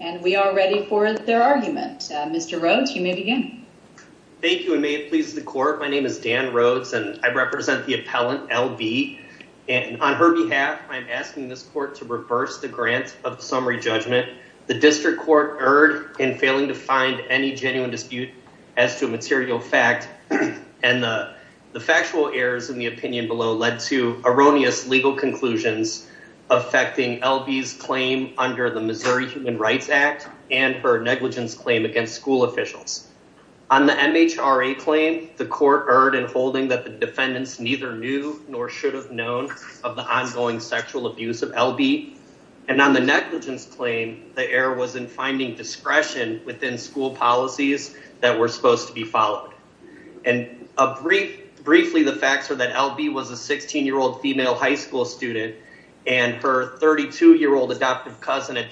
And we are ready for their argument. Mr. Rhodes, you may begin. Thank you and may it please the court, my name is Dan Rhodes and I represent the appellant L.B. and on her behalf I'm asking this court to reverse the grant of summary judgment. The district court erred in failing to find any genuine dispute as to a material fact and the factual errors in the opinion below led to erroneous legal conclusions affecting L.B.'s under the Missouri Human Rights Act and her negligence claim against school officials. On the MHRA claim, the court erred in holding that the defendants neither knew nor should have known of the ongoing sexual abuse of L.B. and on the negligence claim, the error was in finding discretion within school policies that were supposed to be followed. And briefly, the facts are that L.B. was a 16-year-old female high school student and her 32-year-old adoptive cousin had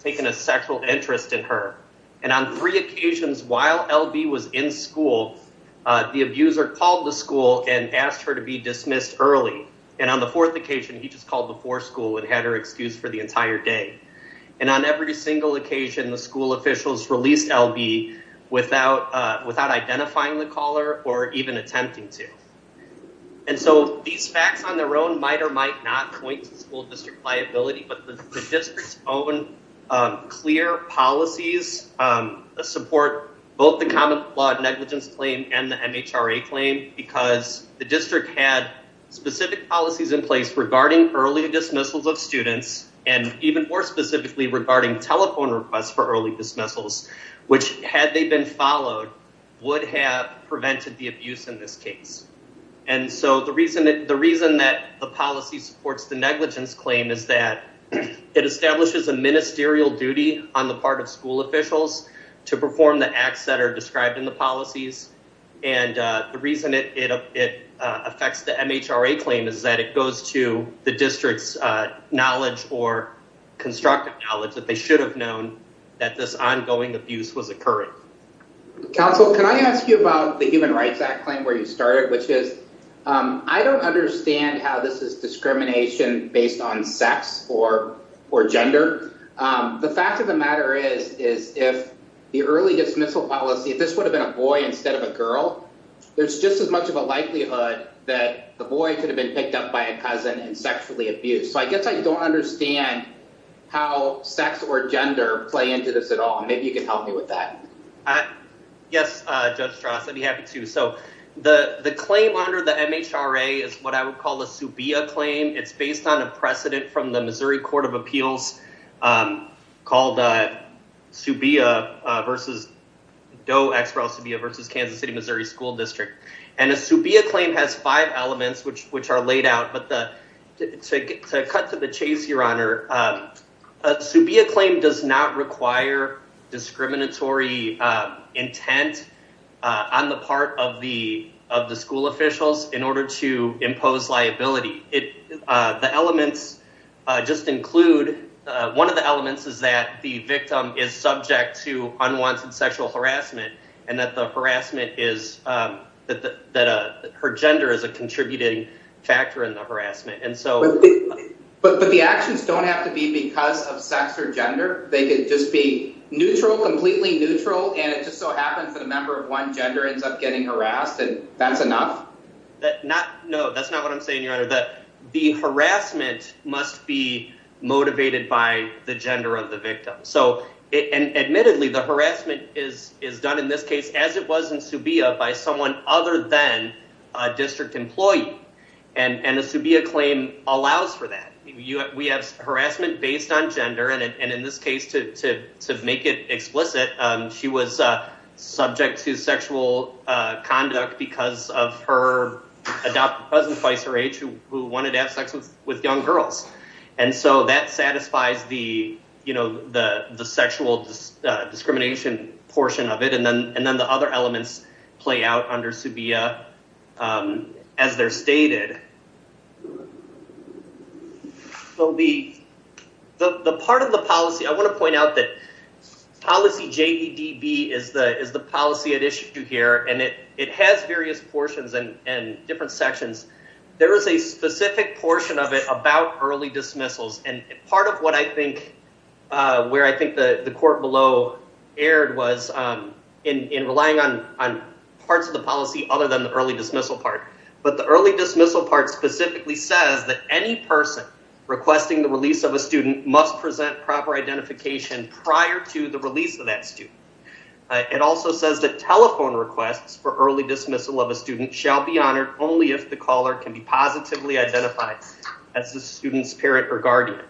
taken a sexual interest in her. And on three occasions while L.B. was in school, the abuser called the school and asked her to be dismissed early. And on the fourth occasion, he just called the poor school and had her excused for the entire day. And on every single occasion, the school officials released L.B. without identifying the caller or even attempting to. And so these facts on their own might or might not point to school district liability, but the district's own clear policies support both the common flawed negligence claim and the MHRA claim because the district had specific policies in place regarding early dismissals of students and even more specifically regarding telephone requests for early dismissals, which had they been followed would have prevented the abuse in this case. And so the reason that the policy supports the negligence claim is that it establishes a ministerial duty on the part of school officials to perform the acts that are described in the policies. And the reason it affects the MHRA claim is that it goes to the district's knowledge or constructive knowledge that they should have known that this ongoing abuse was occurring. Counsel, can I ask you about the Human Rights Act claim where you started, which is I don't understand how this is discrimination based on sex or gender. The fact of the matter is, is if the early dismissal policy, if this would have been a boy instead of a girl, there's just as much of a likelihood that the boy could have been picked up by a cousin and sexually abused. So I guess I don't understand how sex or gender play into this at all. And maybe you can help me with that. Yes, Judge Strauss, I'd be happy to. So the claim under the MHRA is what I would call a SUBIA claim. It's based on a precedent from the Missouri Court of Appeals called SUBIA versus, DOE-X-REL-SUBIA versus Kansas City, Missouri School District. And a SUBIA claim has five elements, which are laid out, but to cut to the chase, Your Honor, a SUBIA claim does not require discriminatory intent on the part of the school officials in order to impose liability. The elements just include, one of the elements is that the victim is subject to unwanted sexual harassment and that her gender is a contributing factor in the harassment. But the actions don't have to be because of sex or gender. They could just be neutral, completely neutral, and it just so happens that a member of one gender ends up getting harassed and that's enough? No, that's not what I'm saying, Your Honor. The harassment must be motivated by the gender of the victim. So admittedly, the harassment is done in this case, as it was in SUBIA, by someone other than a district employee. And a SUBIA claim allows for that. We have harassment based on gender. And in this case, to make it explicit, she was subject to sexual conduct because of her adopted cousin, twice her age, who wanted to have sex with young girls. And so that satisfies the sexual discrimination portion of it. And then the other elements play out under SUBIA as they're stated. The part of the policy, I want to point out that policy JEDB is the policy at issue here, and it has various portions and different sections. There is a specific portion of it about early dismissals. And part of what I think, where I think the court below erred was in relying on parts of the policy other than the early dismissal part. But the early dismissal part specifically says that any person requesting the release of a student must present proper identification prior to the release of that student. It also says that telephone requests for early dismissal of a student shall be honored only if the caller can be positively identified as the student's parent or guardian.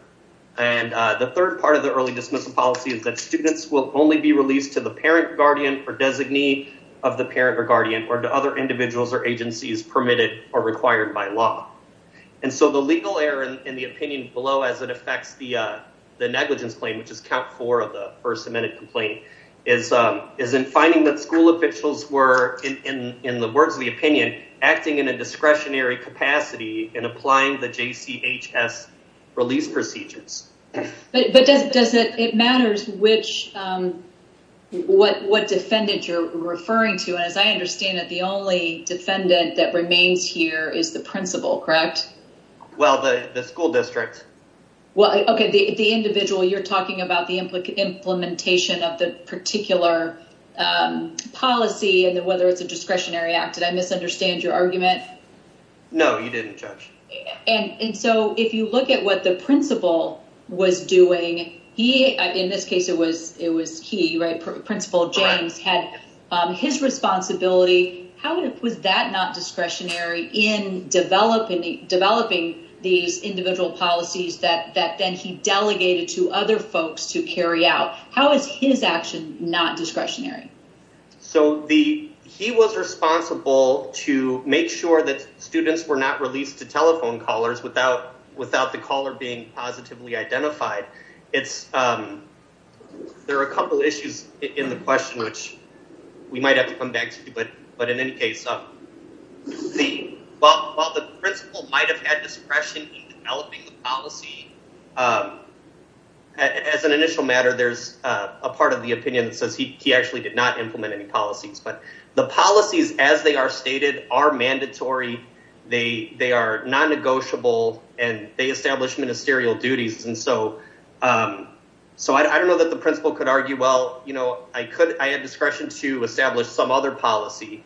And the third part of the early dismissal policy is that students will only be released to the parent, guardian, or designee of the parent or guardian, or to other individuals or agencies permitted or required by law. And so the legal error in the opinion below as it affects the negligence claim, which is count four of the first amendment complaint, is in finding that school officials were, in the words of the opinion, acting in a discretionary capacity in applying the JCHS release procedures. But does it matter which, what defendant you're referring to? And as I understand it, the only defendant that remains here is the principal, correct? Well, the school district. Well, okay, the individual you're talking about, the implementation of the particular policy and whether it's a discretionary act. Did I misunderstand your argument? No, you didn't judge. And so if you look at what the principal was doing, he, in this case, it was he, right? Principal James had his responsibility. How was that not discretionary in developing these individual policies that then he delegated to other folks to carry out? How is his action not discretionary? So the, he was responsible to make sure that students were not released to telephone callers without the caller being positively identified. It's, there are a couple issues in the question, which we might have to come back to, but in any case, while the principal might've had discretion in developing the policy, as an initial matter, there's a part of the opinion that says he actually did not implement any policies, but the policies as they are stated are mandatory. They are non-negotiable and they establish ministerial duties. And so I don't know that the principal could argue, well, I had discretion to establish some other policy.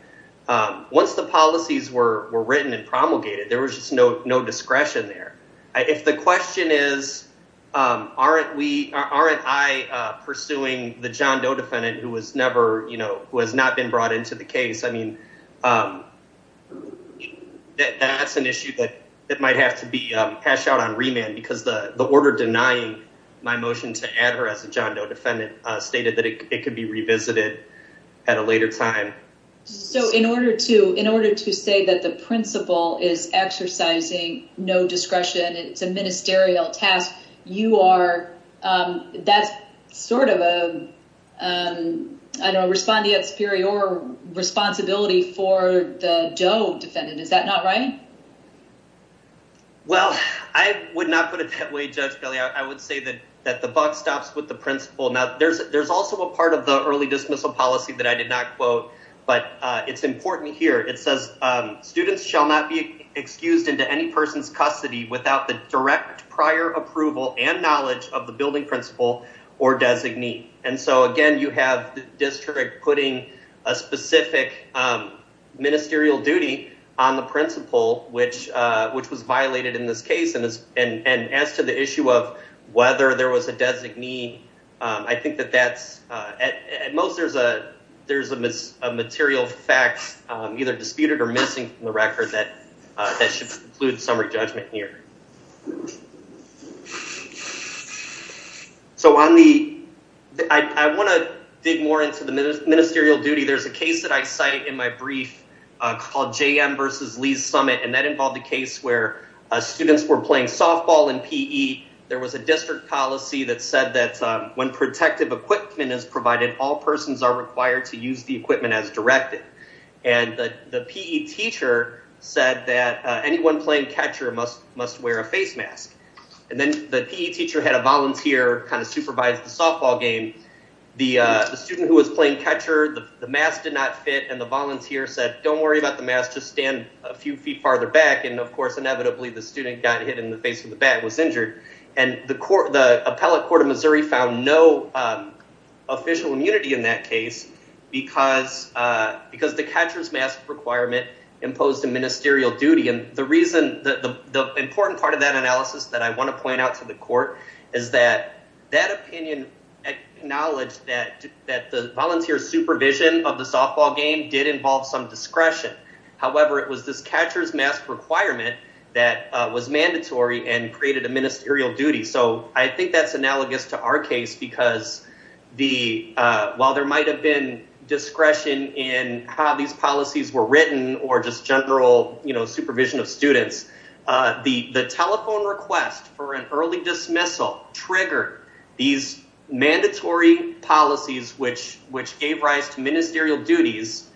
Once the policies were written and promulgated, there was just no discretion there. If the question is, aren't we, aren't I pursuing the John Doe defendant who was never, you know, who has not been brought into the case? I mean, that's an issue that might have to be passed out on remand because the order denying my motion to add her as a John Doe defendant stated that it could be revisited at a later time. So in order to say that the principal is exercising no discretion, it's a ministerial task, you are, that's sort of a, I don't know, respondeat superior responsibility for the Doe defendant. Is that not right? Well, I would not put it that way, Judge Bailey. I would say that the buck stops with the principal. Now there's also a part of the early dismissal policy that I did not quote, but it's important here. It says students shall not be excused into any person's custody without the direct prior approval and knowledge of the building principal or designee. And so again, you have the district putting a specific ministerial duty on the principal, which was violated in this case. And as to the issue of whether there was a designee, I think that that's, at most there's a material fact either disputed or missing from the record that should include summary judgment here. So on the, I want to dig more into the ministerial duty. There's a case that I cite in my brief called JM versus Lee's Summit, and that involved a case where students were playing softball in PE. There was a district policy that said that when protective equipment is provided, all persons are required to use the equipment as directed. And the PE teacher said that anyone playing catcher must wear a face mask. And then the PE teacher had a volunteer kind of supervise the softball game. The student who was playing catcher, the mask did not fit, and the volunteer said, don't worry about the mask, just stand a few feet farther back. And of course, inevitably, the student got hit in the face with the bat and was injured. And the appellate court of Missouri found no official immunity in that case because the catcher's mask requirement imposed a ministerial duty. And the reason, the important part of that analysis that I want to point out to the court is that that opinion acknowledged that the volunteer supervision of the softball game did involve some discretion. However, it was this catcher's mask requirement that was mandatory and created a ministerial duty. So I think that's analogous to our case because while there might have been discretion in how these policies were written or just general supervision of students, the telephone request for an early dismissal triggered these mandatory policies which gave rise to ministerial duties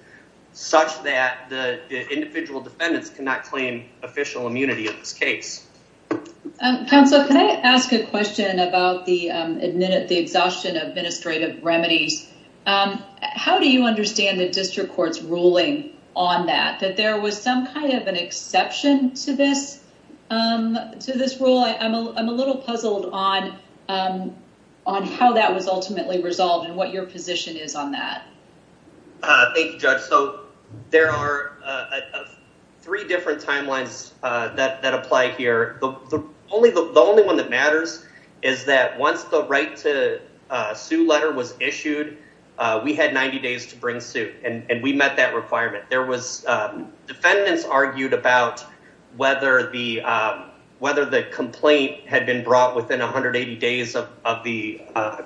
such that the individual defendants cannot claim official immunity in this case. Counsel, can I ask a question about the exhaustion of administrative remedies? How do you understand the district court's ruling on that, that there was some kind of an exception to this rule? I'm a little puzzled on how that was ultimately resolved and what your position is on that. Thank you, Judge. So there are three different timelines that apply here. The only one that matters is that once the right to sue letter was issued, we had 90 days to bring suit and we met that requirement. There was defendants argued about whether the complaint had been brought within 180 days of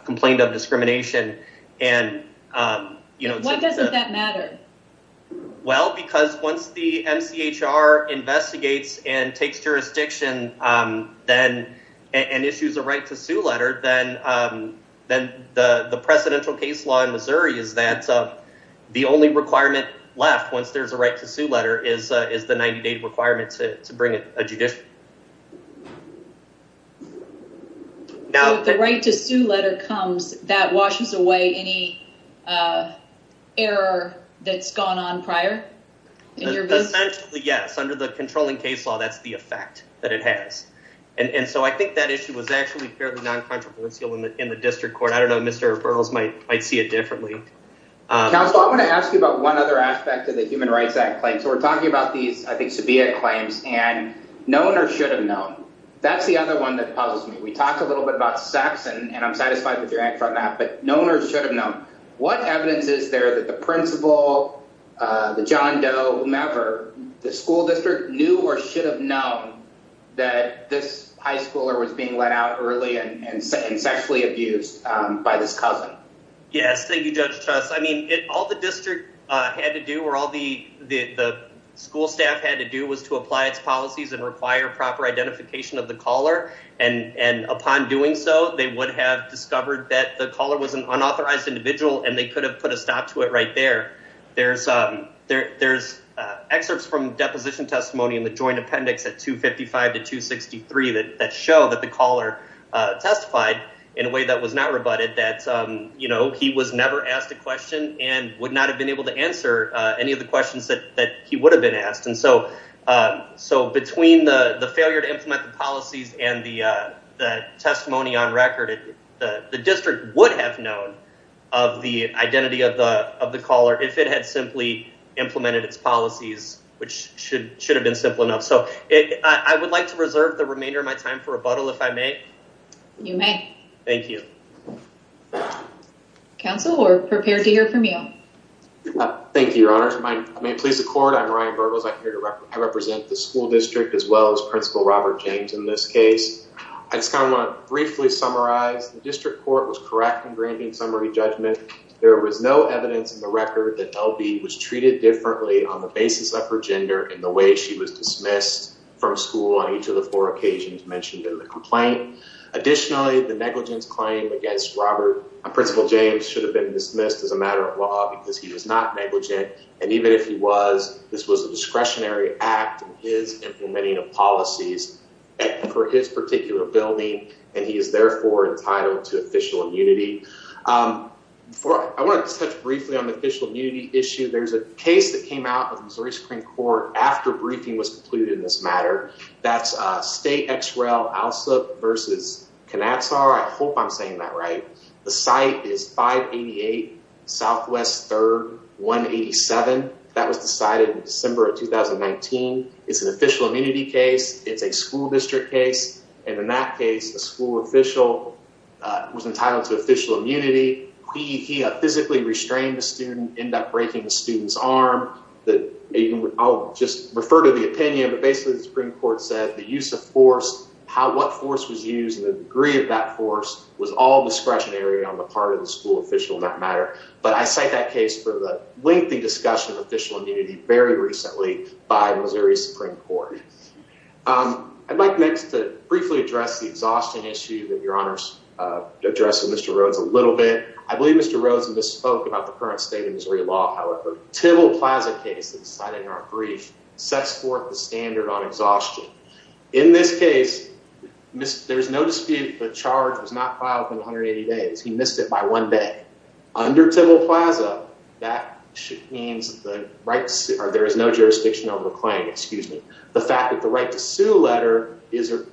complaint of discrimination. Why doesn't that matter? Well, because once the MCHR investigates and takes jurisdiction and issues a right to sue letter, then the precedential case law in Missouri is that the only requirement left once there's a right to sue letter is the 90 day requirement to letter comes that washes away any error that's gone on prior. Yes, under the controlling case law, that's the effect that it has. And so I think that issue was actually fairly non-controversial in the district court. I don't know, Mr. Burroughs might see it differently. Counsel, I want to ask you about one other aspect of the Human Rights Act claim. So we're talking about these, I think, subpoena claims and known or should have known. That's the other one that puzzles me. We talked a little bit about sex and I'm satisfied with your answer on that, but known or should have known. What evidence is there that the principal, the John Doe, whomever, the school district knew or should have known that this high schooler was being let out early and sexually abused by this cousin? Yes, thank you, Judge Chess. I mean, all the district had to do or all the school staff had to do was to apply its policies and require proper identification of the caller and upon doing so, they would have discovered that the caller was an unauthorized individual and they could have put a stop to it right there. There's excerpts from deposition testimony in the joint appendix at 255 to 263 that show that the caller testified in a way that was not rebutted, that he was never asked a question and would not have been able to answer any of the questions that he would have been asked. So between the failure to implement the policies and the testimony on record, the district would have known of the identity of the caller if it had simply implemented its policies, which should have been simple enough. So I would like to reserve the remainder of my time for rebuttal if I may. You may. Thank you. Counsel, we're prepared to hear from you. Thank you, Your Honor. If I may please the court, I'm Ryan Burgos. I represent the school district as well as Principal Robert James in this case. I just kind of want to briefly summarize. The district court was correct in granting summary judgment. There was no evidence in the record that L.B. was treated differently on the basis of her gender and the way she was dismissed from school on each of the four occasions mentioned in the complaint. Additionally, the negligence claim against Robert and Principal James should have been dismissed as a matter of because he was not negligent, and even if he was, this was a discretionary act in his implementing of policies for his particular building, and he is therefore entitled to official immunity. I want to touch briefly on the official immunity issue. There's a case that came out of the Missouri Supreme Court after briefing was concluded in this matter. That's State Ex Rel. Alsup v. Knazar. I hope I'm saying that right. The site is 588 Southwest 3rd 187. That was decided in December of 2019. It's an official immunity case. It's a school district case, and in that case, a school official was entitled to official immunity. He physically restrained the student, ended up breaking the student's arm. I'll just refer to the opinion, but basically the Supreme Court said the use of force, what force was used, and the degree of that force was all discretionary on the part of the school official in that matter, but I cite that case for the lengthy discussion of official immunity very recently by Missouri Supreme Court. I'd like next to briefly address the exhaustion issue that Your Honors addressed with Mr. Rhodes a little bit. I believe Mr. Rhodes misspoke about the current state of Missouri law, however. The Tybill Plaza case that was cited in our brief sets forth the standard on exhaustion. In this case, there's no dispute the charge was not filed within 180 days. He missed it by one day. Under Tybill Plaza, there is no jurisdiction over the claim. The fact that the right to sue letter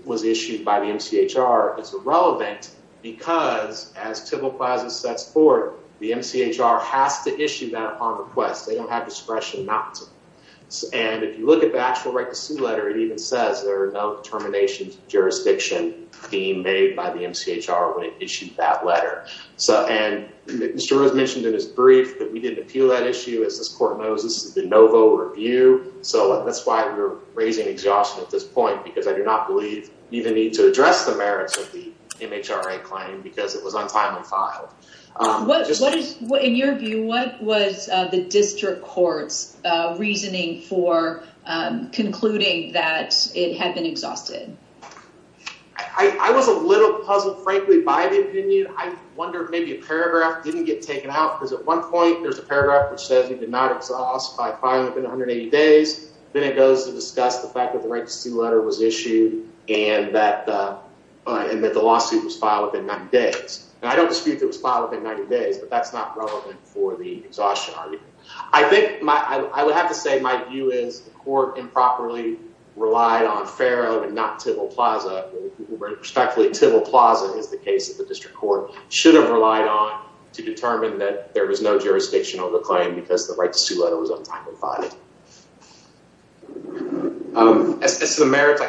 was issued by the MCHR is irrelevant because, as Tybill Plaza sets forth, the MCHR has to issue that on request. They don't have discretion not to, and if you look at the actual right to sue letter, it even says there are no determinations of jurisdiction being made by the MCHR when it issued that letter, and Mr. Rhodes mentioned in his brief that we didn't appeal that issue. As this court knows, this is the de novo review, so that's why we're raising exhaustion at this point because I do not believe you even need to address the merits of the MHRA claim because it was untimely filed. In your view, what was the district court's reasoning for concluding that it had been exhausted? I was a little puzzled, frankly, by the opinion. I wondered maybe a paragraph didn't get taken out because at one point there's a paragraph which says he did not exhaust by filing within 180 days. Then it goes to discuss the fact that the right to sue letter was issued and that the lawsuit was filed within 90 days. I don't dispute that it was filed within 90 days, but that's not relevant for the exhaustion argument. I would have to say my view is the court improperly relied on Farrow and not Tybill Plaza. Respectfully, Tybill Plaza is the case that the district court should have relied on to determine that there was no jurisdiction over the claim because the right to sue letter was untimely filed. As to the merits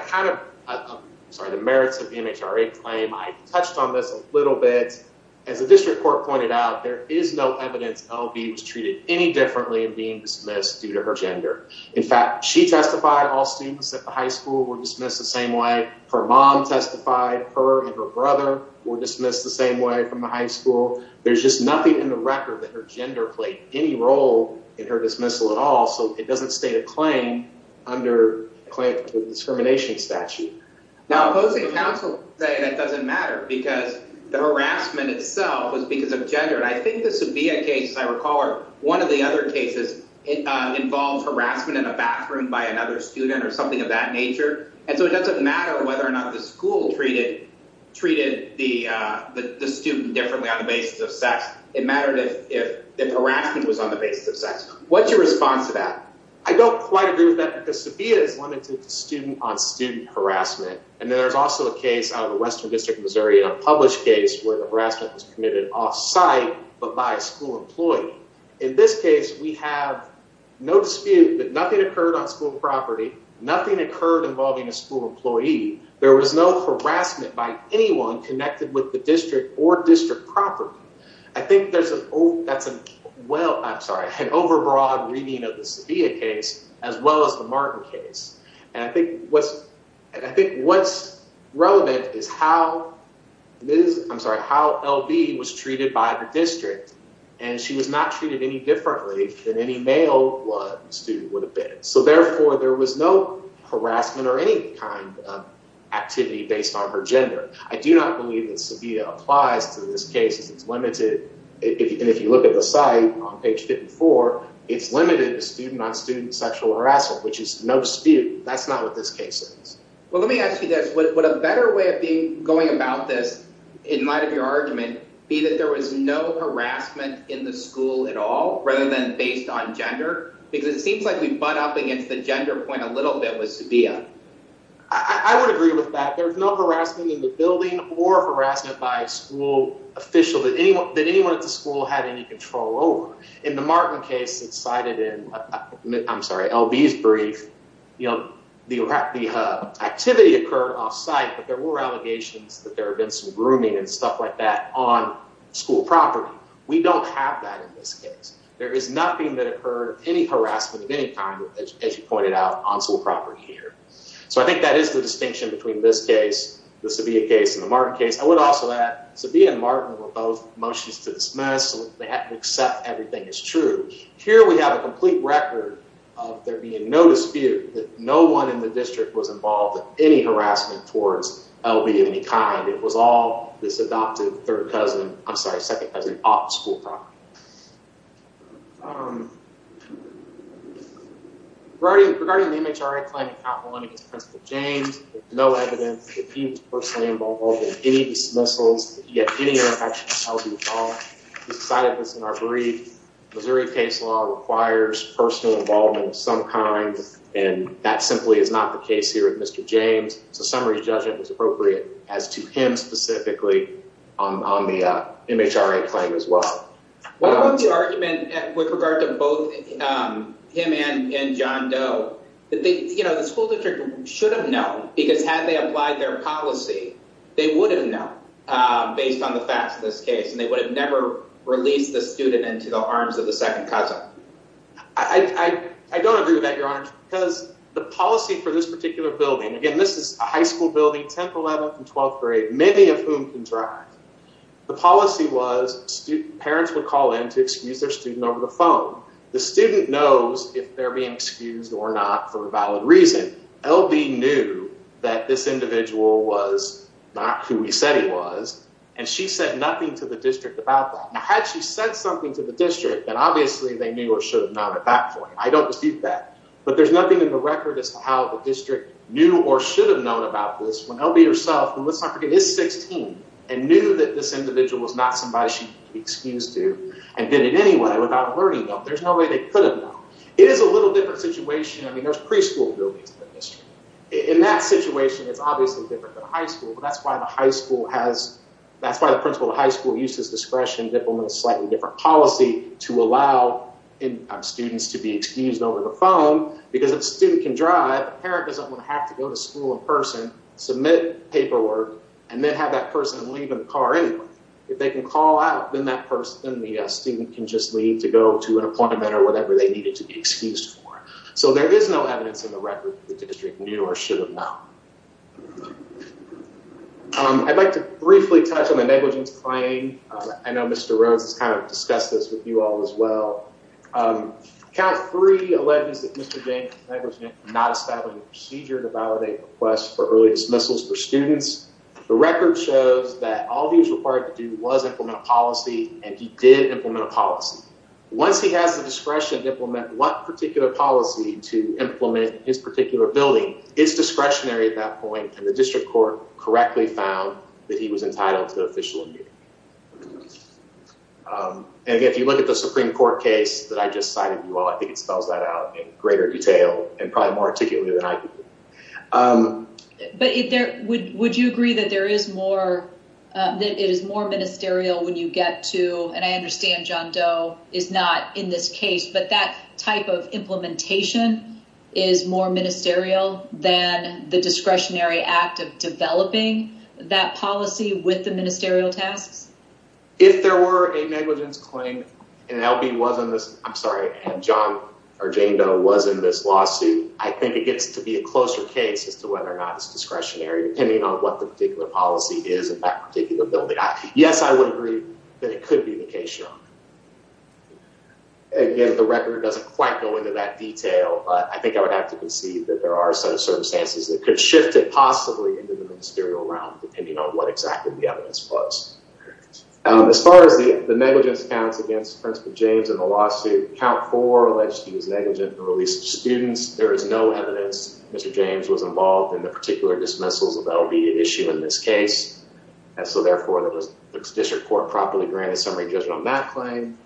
of the MHRA claim, I touched on this a little bit. As the district court pointed out, there is no evidence L.B. was treated any differently in being dismissed due to her gender. In fact, she testified all students at the high school were dismissed the same way. Her mom testified her and her brother were dismissed the same way from the high school. There's just nothing in the record that her gender played any role in her dismissal at all, so it doesn't state a claim under a claim to discrimination statute. Now opposing counsel say that doesn't matter because the harassment itself was because of gender. I think this would be a case, as I recall, one of the other cases involves harassment in a bathroom by another student or something of that nature, and so it doesn't matter whether or not the school treated the student differently on the basis of sex. It mattered if harassment was on the basis of sex. What's your response to that? I don't quite agree with that because Sabia is limited to student-on-student harassment, and there's also a case out of the Western District of Missouri, a published case, where the harassment was committed off-site but by a school employee. In this case, we have no dispute that nothing occurred on school property. Nothing occurred involving a school employee. There was no harassment by anyone connected with the district or district property. I think there's an overbroad reading of the Sabia case as well as the Martin case, and I think what's relevant is how L.B. was treated by the district, and she was not treated any differently than any male student would have been, so therefore there was no harassment or any kind of activity based on her gender. I do not believe that Sabia applies to this case. If you look at the site on page 54, it's limited to student-on-student sexual harassment, which is no dispute. That's not what this case is. Well, let me ask you this. Would a better way of going about this in light of your argument be that there was no harassment in the little bit with Sabia? I would agree with that. There's no harassment in the building or harassment by a school official that anyone at the school had any control over. In the Martin case that's cited in L.B.'s brief, the activity occurred off-site, but there were allegations that there had been some grooming and stuff like that on school property. We don't have that in this case. There is nothing that occurred any harassment of any kind, as you pointed out, on school property here, so I think that is the distinction between this case, the Sabia case, and the Martin case. I would also add Sabia and Martin were both motions to dismiss, so they have to accept everything is true. Here we have a complete record of there being no dispute that no one in the district was involved in any harassment towards L.B. of any kind. It was all this adoptive third cousin, I'm sorry, second cousin, of school property. Regarding the MHRA claim in Appalachian against Principal James, there's no evidence that he was personally involved in any dismissals, yet any interaction with L.B. at all. He cited this in our brief. Missouri case law requires personal involvement of some kind, and that simply is not the case here with Mr. James, so summary judgment is appropriate as to him specifically on the MHRA claim as well. What was the argument with regard to both him and John Doe, that the school district should have known, because had they applied their policy, they would have known based on the facts of this case, and they would have never released the student into the arms of the second cousin. I don't agree with that, Your Honor, because the policy for this particular building, again, this is a high school building, 10th, the policy was parents would call in to excuse their student over the phone. The student knows if they're being excused or not for a valid reason. L.B. knew that this individual was not who he said he was, and she said nothing to the district about that. Now, had she said something to the district, then obviously they knew or should have known at that point. I don't dispute that, but there's nothing in the record as to how the district knew or should have known about this when L.B. herself, who, let's not forget, is 16, and knew that this individual was not somebody she could be excused to and did it anyway without alerting them. There's no way they could have known. It is a little different situation. I mean, there's preschool buildings in the district. In that situation, it's obviously different than high school, but that's why the high school has, that's why the principal of high school uses discretion to implement a slightly different policy to allow students to be excused over the parent doesn't want to have to go to school in person, submit paperwork, and then have that person leave in the car anyway. If they can call out, then that person, then the student can just leave to go to an appointment or whatever they needed to be excused for. So there is no evidence in the record that the district knew or should have known. I'd like to briefly touch on the negligence claim. I know Mr. Rhodes has kind of discussed this with you all as well. Count three alleges that Mr. James never did not establish a procedure to validate requests for early dismissals for students. The record shows that all he was required to do was implement a policy, and he did implement a policy. Once he has the discretion to implement one particular policy to implement his particular building, it's discretionary at that point, and the district court correctly found that he was entitled to official immunity. And again, if you look at the greater detail and probably more articulately than I do. But would you agree that it is more ministerial when you get to, and I understand John Doe is not in this case, but that type of implementation is more ministerial than the discretionary act of developing that policy with the ministerial tasks? If there were a negligence claim, and L.B. was in this, I'm going to was in this lawsuit. I think it gets to be a closer case as to whether or not it's discretionary, depending on what the particular policy is in that particular building. Yes, I would agree that it could be the case. Again, the record doesn't quite go into that detail, but I think I would have to concede that there are some circumstances that could shift it possibly into the ministerial realm, depending on what exactly the evidence was. As far as the negligence counts against Principal James in the lawsuit, count four alleged he was negligent in the release of students. There is no evidence Mr. James was involved in the particular dismissals of L.B. issue in this case. And so therefore, the district court properly granted summary judgment on that claim.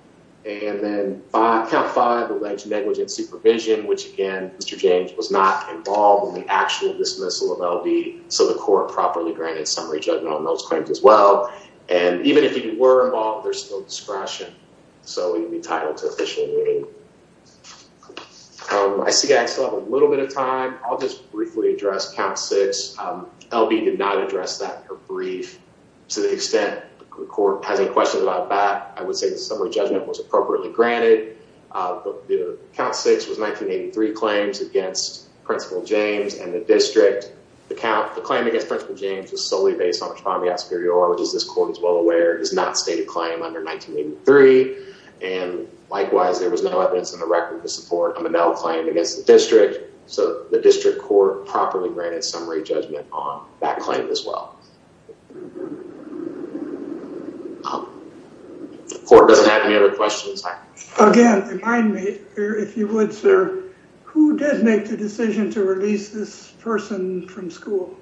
And then count five alleged negligent supervision, which again, Mr. James was not involved in the actual dismissal of L.B., so the court properly granted summary judgment on those So he would be titled to official immunity. I see I still have a little bit of time. I'll just briefly address count six. L.B. did not address that in her brief. To the extent the court has any questions about that, I would say the summary judgment was appropriately granted. The count six was 1983 claims against Principal James and the district. The claim against Principal James was solely based on responding to Superior Oral, which as this court is well aware, does not state a claim under 1983. And likewise, there was no evidence in the record to support a Monell claim against the district. So the district court properly granted summary judgment on that claim as well. The court doesn't have any other questions. Again, if you would, sir, who did make the decision to release this person from school?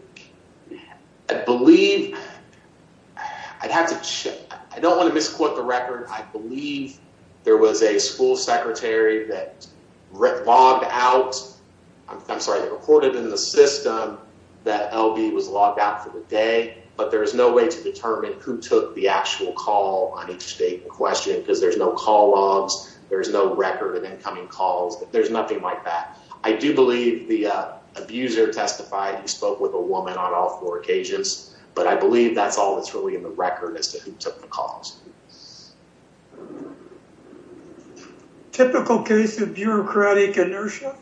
I don't want to misquote the record. I believe there was a school secretary that logged out, I'm sorry, reported in the system that L.B. was logged out for the day, but there is no way to determine who took the actual call on each date in question because there's no call logs. There's no record of incoming calls. There's nothing like that. I do believe the abuser testified. He spoke with a woman on all four occasions, but I believe that's all that's really in the record as to who took the calls. Typical case of bureaucratic inertia?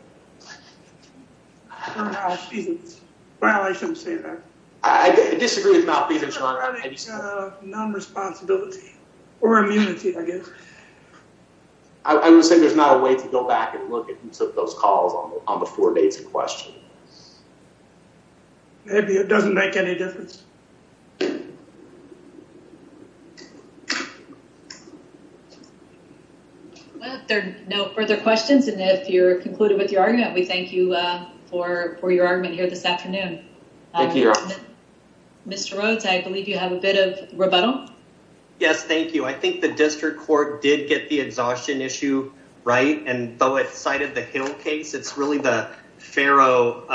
Well, I shouldn't say that. I disagree with Malfeasance. Non-responsibility or immunity, I guess. I would say there's not a way to go back and look at who took those calls on the four dates in question. Maybe. It doesn't make any difference. Well, if there are no further questions and if you're concluded with your argument, we thank you for your argument here this afternoon. Thank you. Mr. Rhodes, I believe you have a bit of rebuttal. Yes, thank you. I think the District Court did get the exhaustion issue right, and though it cited the Hill case, it's really the Farrell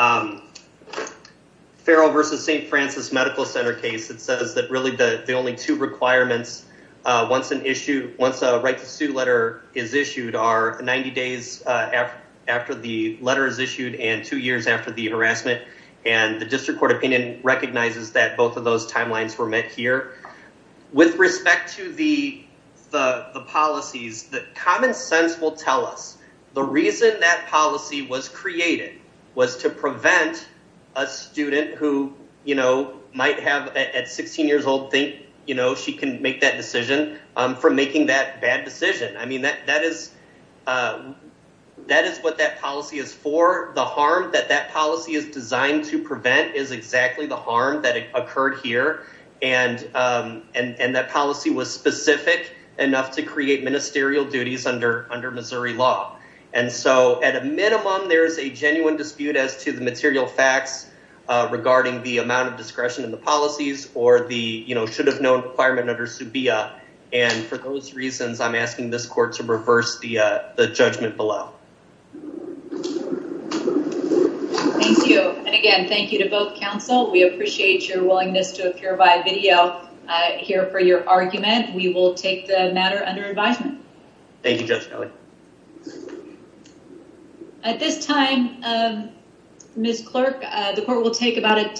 v. St. Francis Medical Center case that says that really the only two requirements once a right to sue letter is issued are 90 days after the letter is issued and two years after the harassment, and the District Court opinion recognizes that both of those timelines were met here. With respect to the policies, the common sense will tell us the reason that policy was created was to prevent a student who might have at 16 years old think she can make that decision from making that bad decision. I mean, that is what that policy is for. The harm that policy is designed to prevent is exactly the harm that occurred here, and that policy was specific enough to create ministerial duties under Missouri law, and so at a minimum, there is a genuine dispute as to the material facts regarding the amount of discretion in the policies or the should have known requirement under subia, and for those reasons, I'm asking this court to reverse the judgment below. Thank you, and again, thank you to both counsel. We appreciate your willingness to appear by video here for your argument. We will take the matter under advisement. Thank you, Judge Kelly. At this time, Ms. Clark, the court will take about a